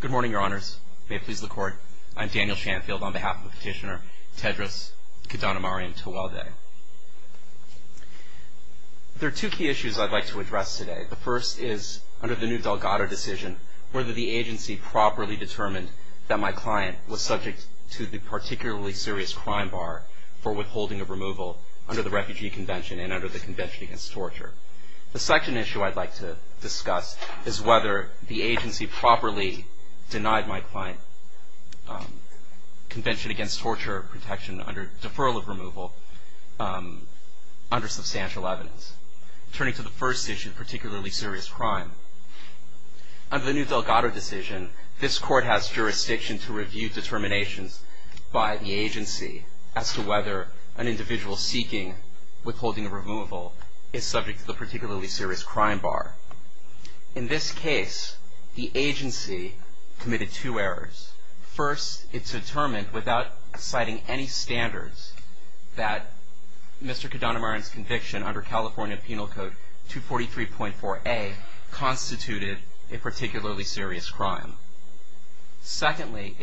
Good morning, Your Honors. May it please the Court, I'm Daniel Shanfield on behalf of the petitioner Tedros Kidanemariam-Tewelde. There are two key issues I'd like to address today. The first is, under the new Delgado decision, whether the agency properly determined that my client was subject to the particularly serious crime bar for withholding of removal under the Refugee Convention and under the Convention Against Torture. The second issue I'd like to discuss is whether the agency properly denied my client Convention Against Torture protection under deferral of removal under substantial evidence, turning to the first issue, particularly serious crime. Under the new Delgado decision, this Court has jurisdiction to review determinations by the agency as to whether an individual seeking withholding of removal is subject to the particularly serious crime bar. In this case, the agency committed two errors. First, it determined, without citing any standards, that Mr. Kidanemariam's conviction under California Penal Code 243.4a constituted a particularly serious crime. Secondly,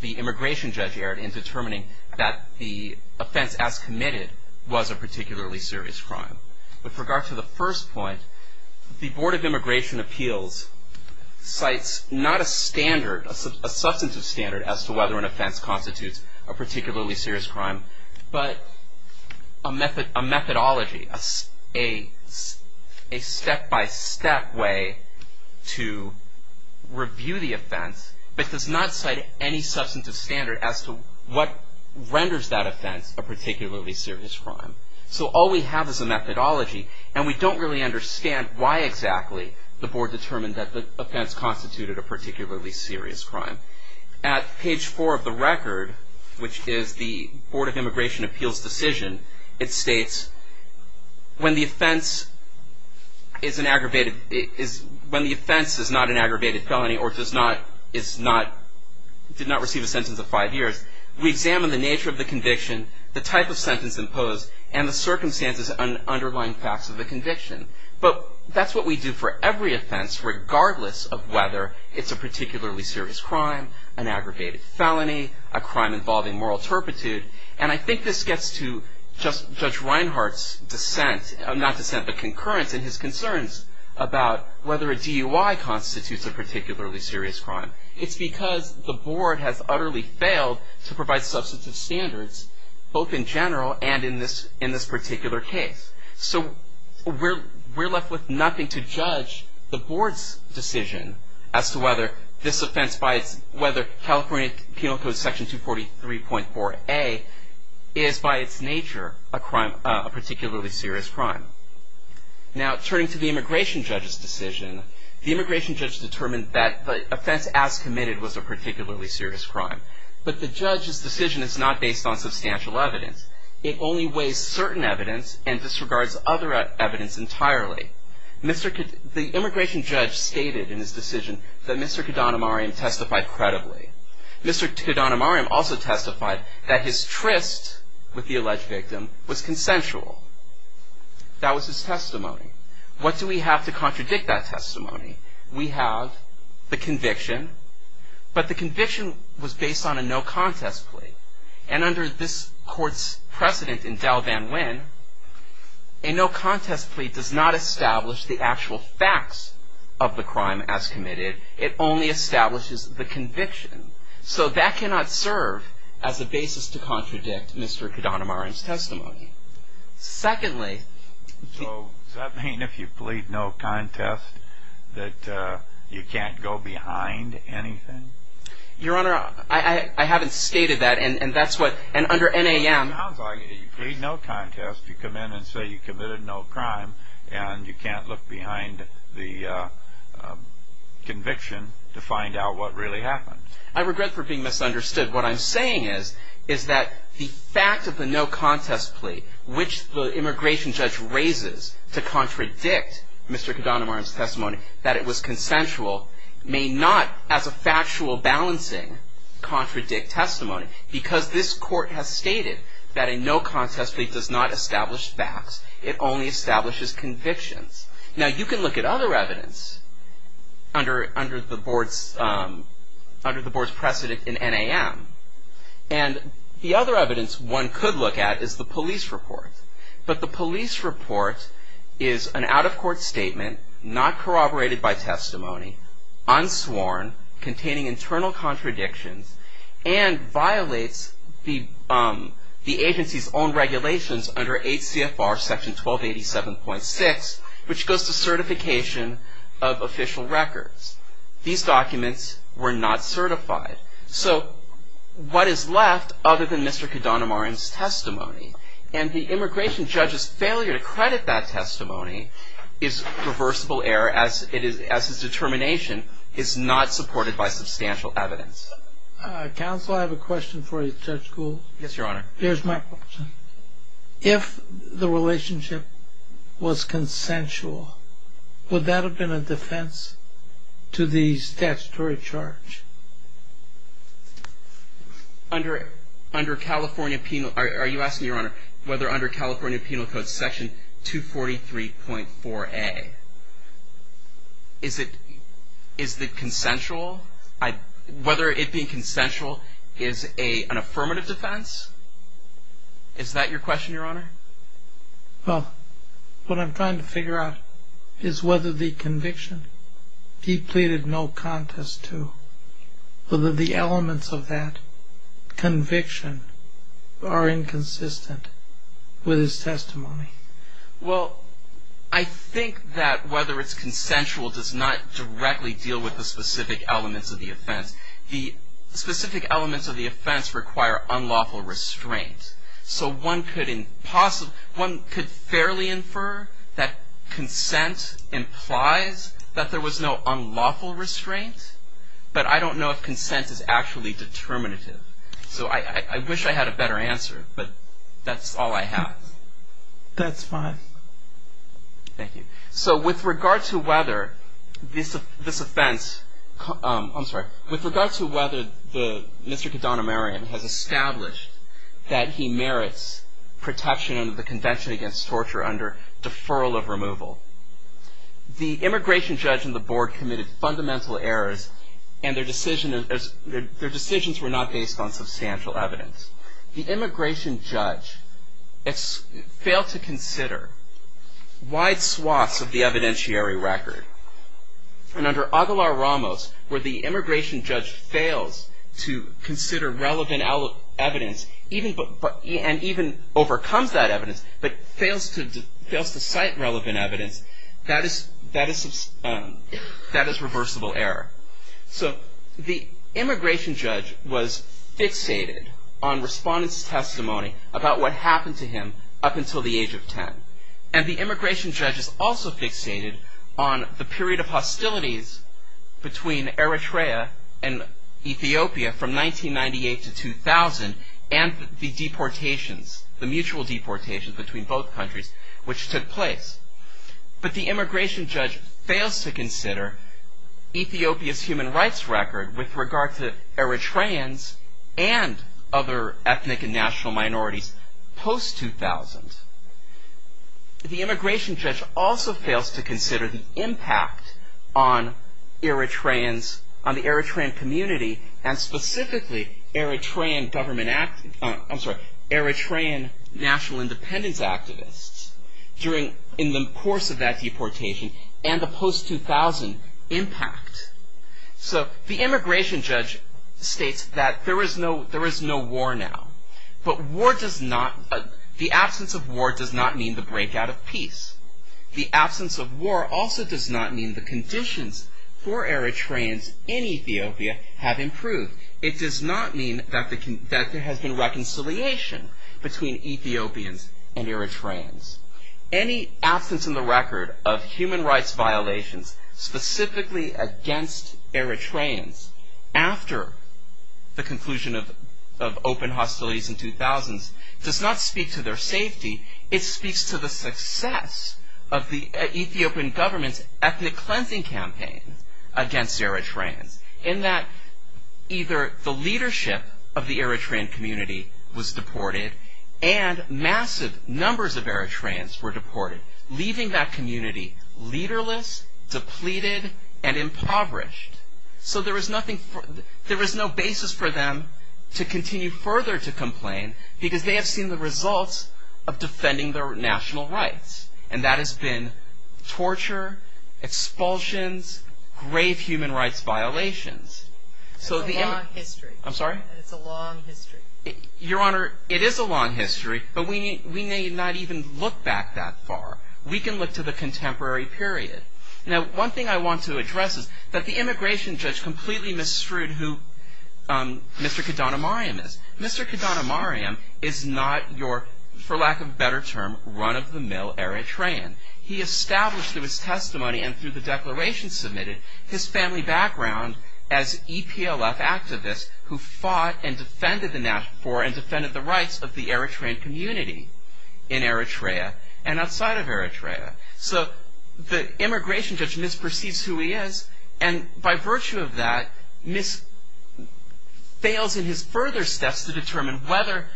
the immigration judge erred in determining that the offense as committed was a particularly serious crime. With regard to the first point, the Board of Immigration Appeals cites not a standard, a substantive standard as to whether an offense constitutes a particularly serious crime, but a methodology, a step-by-step way to review the offense, but does not cite any substantive standard as to what renders that offense a particularly serious crime. So all we have is a methodology, and we don't really understand why exactly the Board determined that the offense constituted a particularly serious crime. At page four of the record, which is the Board of Immigration Appeals decision, it states, when the offense is not an aggravated felony or did not receive a sentence of five years, we examine the nature of the conviction, the type of sentence imposed, and the circumstances underlying facts of the conviction. But that's what we do for every offense, regardless of whether it's a particularly serious crime, an aggravated felony, a crime involving moral turpitude. And I think this gets to Judge Reinhart's dissent, not dissent, but concurrence in his concerns about whether a DUI constitutes a particularly serious crime. It's because the Board has utterly failed to provide substantive standards, both in general and in this particular case. So we're left with nothing to judge the Board's decision as to whether this offense, whether California Penal Code Section 243.4a is by its nature a particularly serious crime. Now, turning to the immigration judge's decision, the immigration judge determined that the offense as committed was a particularly serious crime. But the judge's decision is not based on substantial evidence. It only weighs certain evidence and disregards other evidence entirely. The immigration judge stated in his decision that Mr. Kadhanamaryam testified credibly. Mr. Kadhanamaryam also testified that his tryst with the alleged victim was consensual. That was his testimony. What do we have to contradict that testimony? We have the conviction, but the conviction was based on a no-contest plea. And under this Court's precedent in Del Van Wyn, a no-contest plea does not establish the actual facts of the crime as committed. It only establishes the conviction. So that cannot serve as a basis to contradict Mr. Kadhanamaryam's testimony. Secondly... So does that mean if you plead no-contest that you can't go behind anything? Your Honor, I haven't stated that. And under NAM... It sounds like if you plead no-contest, you come in and say you committed no crime, and you can't look behind the conviction to find out what really happened. I regret for being misunderstood. What I'm saying is that the fact of the no-contest plea, that it was consensual, may not, as a factual balancing, contradict testimony. Because this Court has stated that a no-contest plea does not establish facts. It only establishes convictions. Now, you can look at other evidence under the Board's precedent in NAM. And the other evidence one could look at is the police report. The police report is an out-of-court statement, not corroborated by testimony, unsworn, containing internal contradictions, and violates the agency's own regulations under 8 CFR Section 1287.6, which goes to certification of official records. These documents were not certified. And the immigration judge's failure to credit that testimony is reversible error, as his determination is not supported by substantial evidence. Counsel, I have a question for you, Judge Gould. Yes, Your Honor. Here's my question. If the relationship was consensual, would that have been a defense to the statutory charge? Under California penal – are you asking, Your Honor, whether under California Penal Code Section 243.4a, is it – is the consensual – whether it being consensual is an affirmative defense? Is that your question, Your Honor? Well, what I'm trying to figure out is whether the conviction depleted no contest to the statutory charge. Whether the elements of that conviction are inconsistent with his testimony. Well, I think that whether it's consensual does not directly deal with the specific elements of the offense. The specific elements of the offense require unlawful restraint. So one could – one could fairly infer that consent implies that there was no unlawful restraint, but I don't know if consent is actually determinative. So I wish I had a better answer, but that's all I have. That's fine. Thank you. So with regard to whether this offense – I'm sorry. With regard to whether the – Mr. Kadanamarian has established that he merits protection under the Convention Against Torture under deferral of removal, the immigration judge and the board committed fundamental errors and their decisions were not based on substantial evidence. The immigration judge failed to consider wide swaths of the evidentiary record. And under Aguilar-Ramos, where the immigration judge fails to consider relevant evidence, and even overcomes that evidence, but fails to cite relevant evidence, that is reversible error. So the immigration judge was fixated on respondents' testimony about what happened to him up until the age of 10. And the immigration judge is also fixated on the period of hostilities between Eritrea and Ethiopia from 1998 to 2000 and the deportations, the mutual deportations between both countries which took place. But the immigration judge fails to consider Ethiopia's human rights record with regard to Eritreans and other ethnic and national minorities post-2000. The immigration judge also fails to consider the impact on Eritreans, on the Eritrean community and specifically Eritrean government – I'm sorry, Eritrean national independence activists during – in the course of that deportation and the post-2000 impact. So the immigration judge states that there is no war now. But war does not – the absence of war does not mean the breakout of peace. The absence of war also does not mean the conditions for Eritreans in Ethiopia have improved. It does not mean that there has been reconciliation between Ethiopians and Eritreans. Any absence in the record of human rights violations specifically against Eritreans after the conclusion of open hostilities in 2000 does not speak to their safety. It speaks to the success of the Ethiopian government's ethnic cleansing campaign against Eritreans in that either the leadership of the Eritrean community was deported and massive numbers of Eritreans were deported, leaving that community leaderless, depleted and impoverished. So there is nothing – there is no basis for them to continue further to complain because they have seen the results of defending their national rights. And that has been torture, expulsions, grave human rights violations. So the – It's a long history. I'm sorry? It's a long history. Your Honor, it is a long history, but we may not even look back that far. We can look to the contemporary period. Now, one thing I want to address is that the immigration judge completely misstood who Mr. Kadanamariam is. Mr. Kadanamariam is not your, for lack of a better term, run-of-the-mill Eritrean. He established through his testimony and through the declaration submitted his family background as EPLF activists who fought and defended the national – or defended the rights of the Eritrean community in Eritrea and outside of Eritrea. So the immigration judge misperceives who he is, and by virtue of that, fails in his further steps to determine whether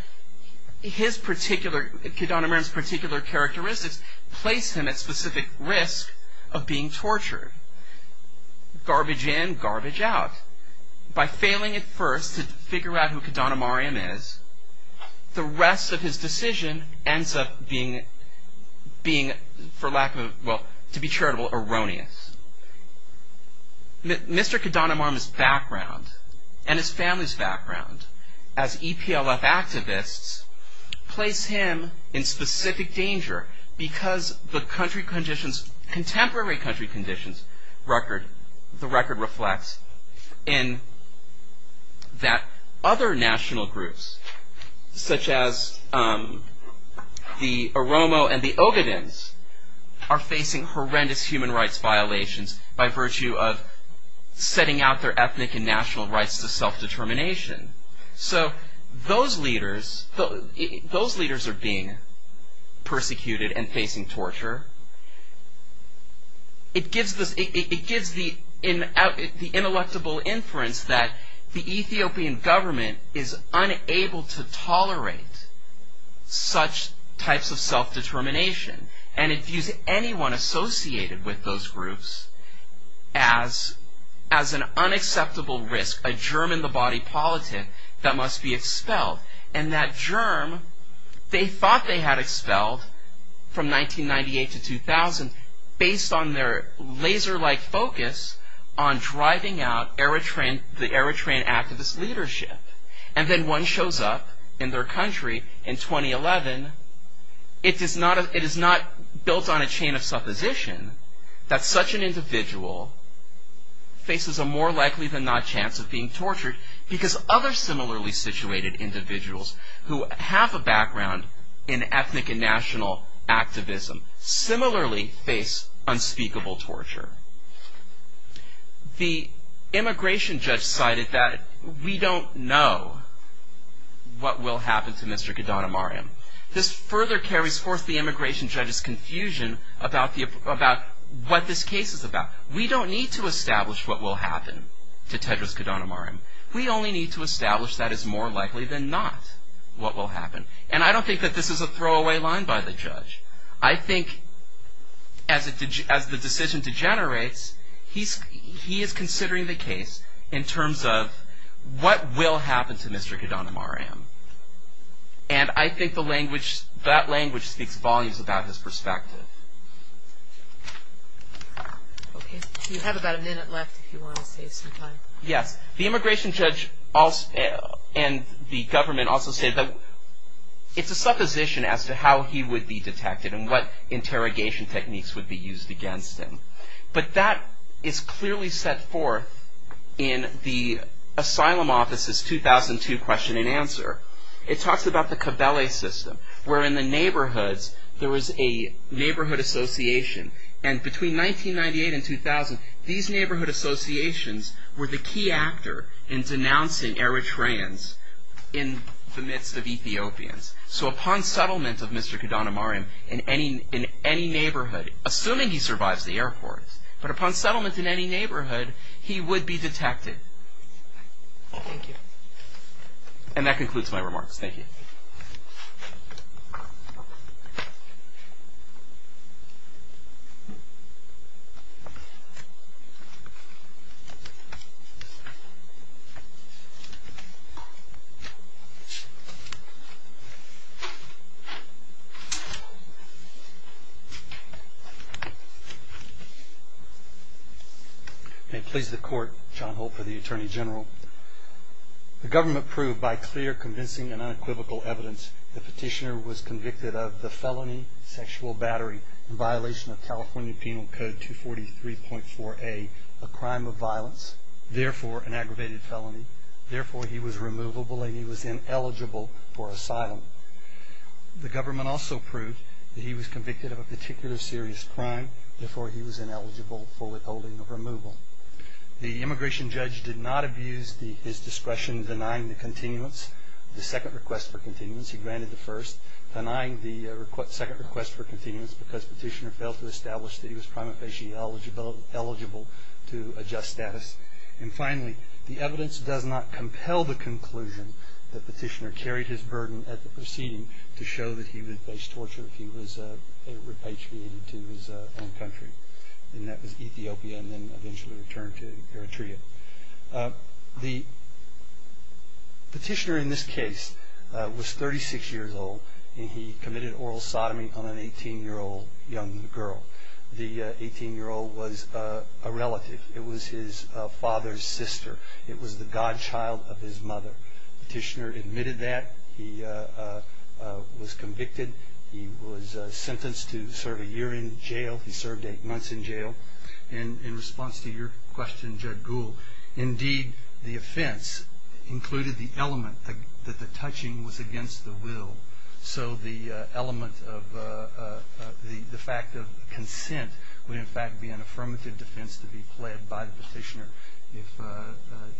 his particular – Kadanamariam's particular characteristics place him at specific risk of being tortured. Garbage in, garbage out. By failing at first to figure out who Kadanamariam is, the rest of his decision ends up being, for lack of a – well, to be charitable, erroneous. Mr. Kadanamariam's background and his family's background as EPLF activists place him in specific danger because the country conditions – contemporary country conditions record – such as the Oromo and the Ogadins are facing horrendous human rights violations by virtue of setting out their ethnic and national rights to self-determination. So those leaders are being persecuted and facing torture. It gives the ineluctable inference that the Ethiopian government is unable to tolerate such types of self-determination. And it views anyone associated with those groups as an unacceptable risk, a germ in the body politic that must be expelled. And that germ, they thought they had expelled from 1998 to 2000 based on their laser-like focus on driving out the Eritrean activist leadership. And then one shows up in their country in 2011. It is not built on a chain of supposition that such an individual faces a more likely than not chance of being tortured because other similarly situated individuals who have a background in ethnic and national activism similarly face unspeakable torture. The immigration judge cited that we don't know what will happen to Mr. Kadanamariam. This further carries forth the immigration judge's confusion about what this case is about. We don't need to establish what will happen to Tedros Kadanamariam. We only need to establish that it's more likely than not what will happen. And I don't think that this is a throwaway line by the judge. I think as the decision degenerates, he is considering the case in terms of what will happen to Mr. Kadanamariam. And I think that language speaks volumes about his perspective. Okay. So you have about a minute left if you want to save some time. Yes. The immigration judge and the government also say that it's a supposition as to how he would be detected and what interrogation techniques would be used against him. But that is clearly set forth in the Asylum Office's 2002 question and answer. It talks about the cabalet system, where in the neighborhoods there is a neighborhood association. And between 1998 and 2000, these neighborhood associations were the key actor in denouncing Eritreans in the midst of Ethiopians. So upon settlement of Mr. Kadanamariam in any neighborhood, assuming he survives the Air Force, but upon settlement in any neighborhood, he would be detected. Thank you. And that concludes my remarks. Thank you. May it please the Court, John Holt for the Attorney General. The government proved by clear, convincing and unequivocal evidence the petitioner was convicted of the felony sexual battery in violation of California Penal Code 243.4a, a crime of violence, therefore an aggravated felony, therefore he was removable and he was ineligible for asylum. The government also proved that he was convicted of a particular serious crime, therefore he was ineligible for withholding or removal. The immigration judge did not abuse his discretion denying the continuance, the second request for continuance. because petitioner failed to establish that he was prima facie eligible to adjust status. And finally, the evidence does not compel the conclusion that petitioner carried his burden at the proceeding to show that he would face torture if he was repatriated to his own country, and that was Ethiopia and then eventually returned to Eritrea. The petitioner in this case was 36 years old and he committed oral sodomy on an 18-year-old young girl. The 18-year-old was a relative. It was his father's sister. It was the godchild of his mother. Petitioner admitted that. He was convicted. He was sentenced to serve a year in jail. He served eight months in jail. And in response to your question, Judge Gould, the offense included the element that the touching was against the will. So the element of the fact of consent would in fact be an affirmative defense to be pled by the petitioner if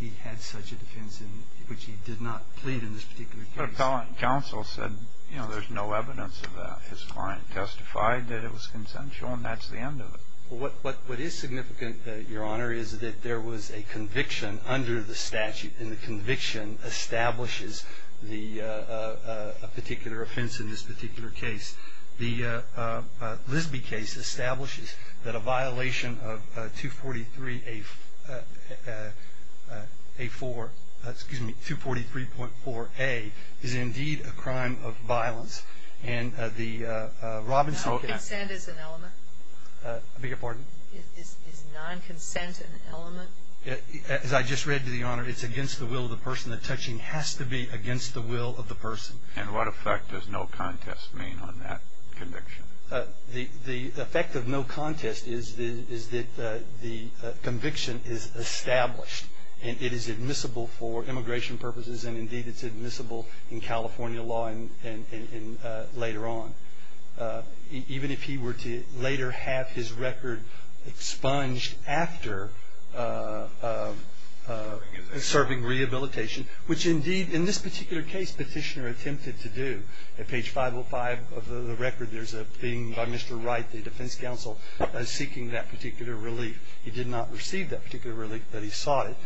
he had such a defense in which he did not plead in this particular case. But appellant counsel said, you know, there's no evidence of that. His client testified that it was consensual and that's the end of it. Well, what is significant, Your Honor, is that there was a conviction under the statute and the conviction establishes a particular offense in this particular case. The Lisby case establishes that a violation of 243A4, excuse me, 243.4A, is indeed a crime of violence and the Robinson case. Consent is an element. I beg your pardon? Is non-consent an element? As I just read to you, Your Honor, it's against the will of the person. The touching has to be against the will of the person. And what effect does no contest mean on that conviction? The effect of no contest is that the conviction is established and it is admissible for immigration purposes and indeed it's admissible in California law and later on. Even if he were to later have his record expunged after serving rehabilitation, which indeed in this particular case Petitioner attempted to do. At page 505 of the record there's a thing by Mr. Wright, the defense counsel, seeking that particular relief. He did not receive that particular relief, but he sought it.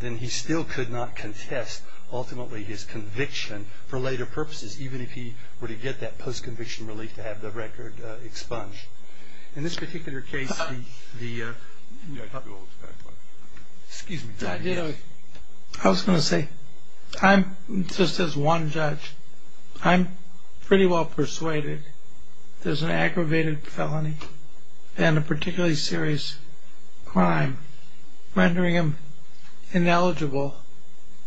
Then he still could not contest ultimately his conviction for later purposes, even if he were to get that post-conviction relief to have the record expunged. In this particular case, the... Excuse me. I was going to say, just as one judge, I'm pretty well persuaded there's an aggravated felony and a particularly serious crime rendering him ineligible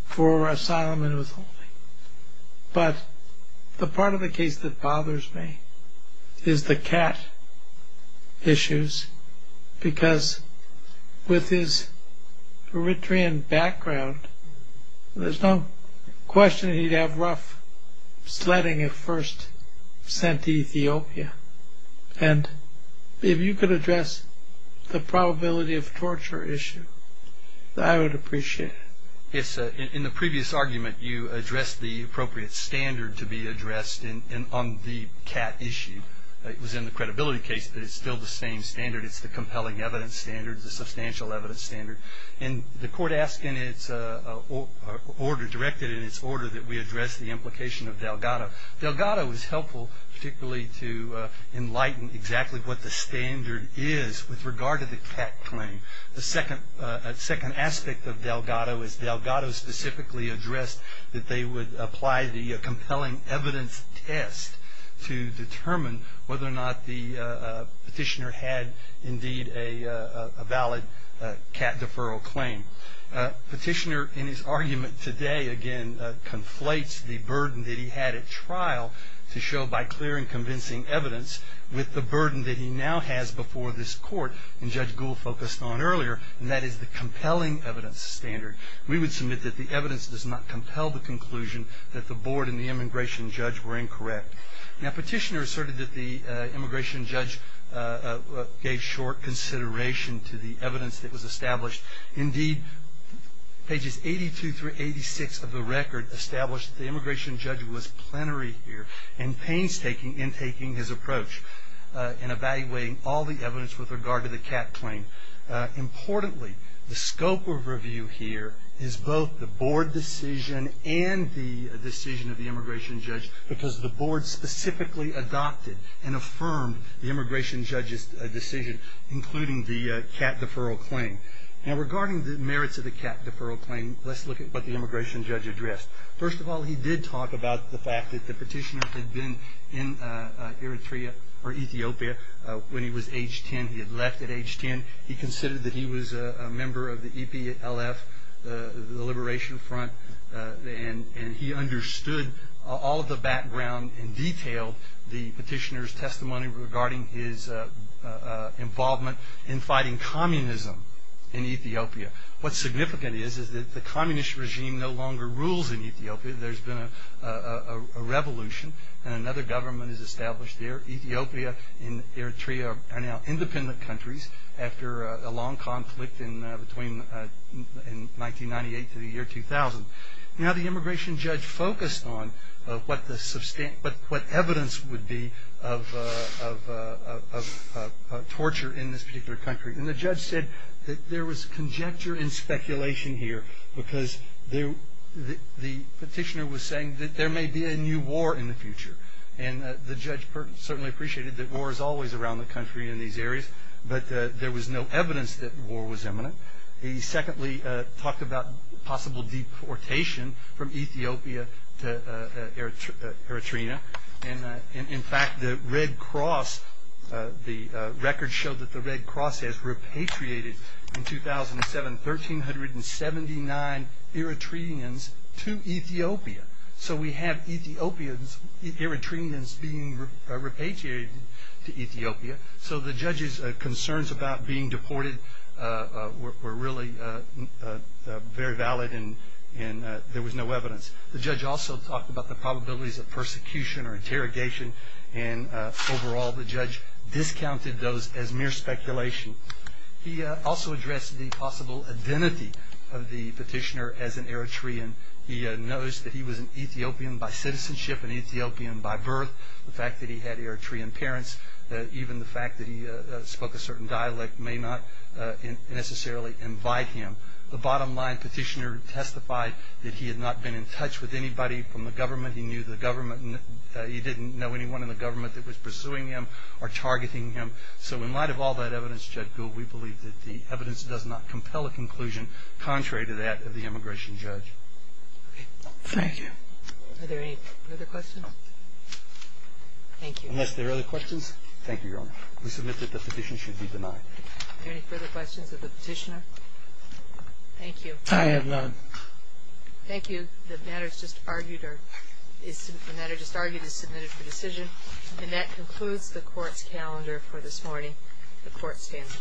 for asylum and withholding. But the part of the case that bothers me is the cat issues because with his Eritrean background, there's no question he'd have rough sledding if first sent to Ethiopia. And if you could address the probability of torture issue, I would appreciate it. In the previous argument, you addressed the appropriate standard to be addressed on the cat issue. It was in the credibility case, but it's still the same standard. It's the compelling evidence standard, the substantial evidence standard. And the court asked in its order, directed in its order, that we address the implication of Delgado. Delgado is helpful particularly to enlighten exactly what the standard is with regard to the cat claim. The second aspect of Delgado is Delgado specifically addressed that they would apply the compelling evidence test to determine whether or not the petitioner had indeed a valid cat deferral claim. Petitioner in his argument today, again, conflates the burden that he had at trial to show by clear and convincing evidence with the burden that he now has before this court. And Judge Gould focused on earlier, and that is the compelling evidence standard. We would submit that the evidence does not compel the conclusion that the board and the immigration judge were incorrect. Now, petitioner asserted that the immigration judge gave short consideration to the evidence that was established. Indeed, pages 82 through 86 of the record established that the immigration judge was plenary here and painstaking in taking his approach and evaluating all the evidence with regard to the cat claim. Importantly, the scope of review here is both the board decision and the decision of the immigration judge because the board specifically adopted and affirmed the immigration judge's decision, including the cat deferral claim. Now, regarding the merits of the cat deferral claim, let's look at what the immigration judge addressed. First of all, he did talk about the fact that the petitioner had been in Eritrea or Ethiopia when he was age 10. He had left at age 10. He considered that he was a member of the EPLF, the Liberation Front, and he understood all of the background and detailed the petitioner's testimony regarding his involvement in fighting communism in Ethiopia. What's significant is that the communist regime no longer rules in Ethiopia. There's been a revolution, and another government is established there. Ethiopia and Eritrea are now independent countries after a long conflict between 1998 to the year 2000. Now, the immigration judge focused on what evidence would be of torture in this particular country, and the judge said that there was conjecture and speculation here because the petitioner was saying that there may be a new war in the future, and the judge certainly appreciated that war is always around the country in these areas, but there was no evidence that war was imminent. He secondly talked about possible deportation from Ethiopia to Eritrea, and, in fact, the Red Cross, the records show that the Red Cross has repatriated, in 2007, 1,379 Eritreans to Ethiopia, so we have Eritreans being repatriated to Ethiopia, so the judge's concerns about being deported were really very valid, and there was no evidence. The judge also talked about the probabilities of persecution or interrogation, and, overall, the judge discounted those as mere speculation. He also addressed the possible identity of the petitioner as an Eritrean. He noticed that he was an Ethiopian by citizenship, an Ethiopian by birth. The fact that he had Eritrean parents, even the fact that he spoke a certain dialect, may not necessarily invite him. The bottom line, petitioner testified that he had not been in touch with anybody from the government. He knew the government. He didn't know anyone in the government that was pursuing him or targeting him, so in light of all that evidence, Judge Gould, we believe that the evidence does not compel a conclusion contrary to that of the immigration judge. Thank you. Are there any further questions? Thank you. Unless there are other questions, thank you, Your Honor. We submit that the petition should be denied. Are there any further questions of the petitioner? Thank you. I have none. Thank you. The matter just argued is submitted for decision, and that concludes the court's calendar for this morning. The court stands adjourned.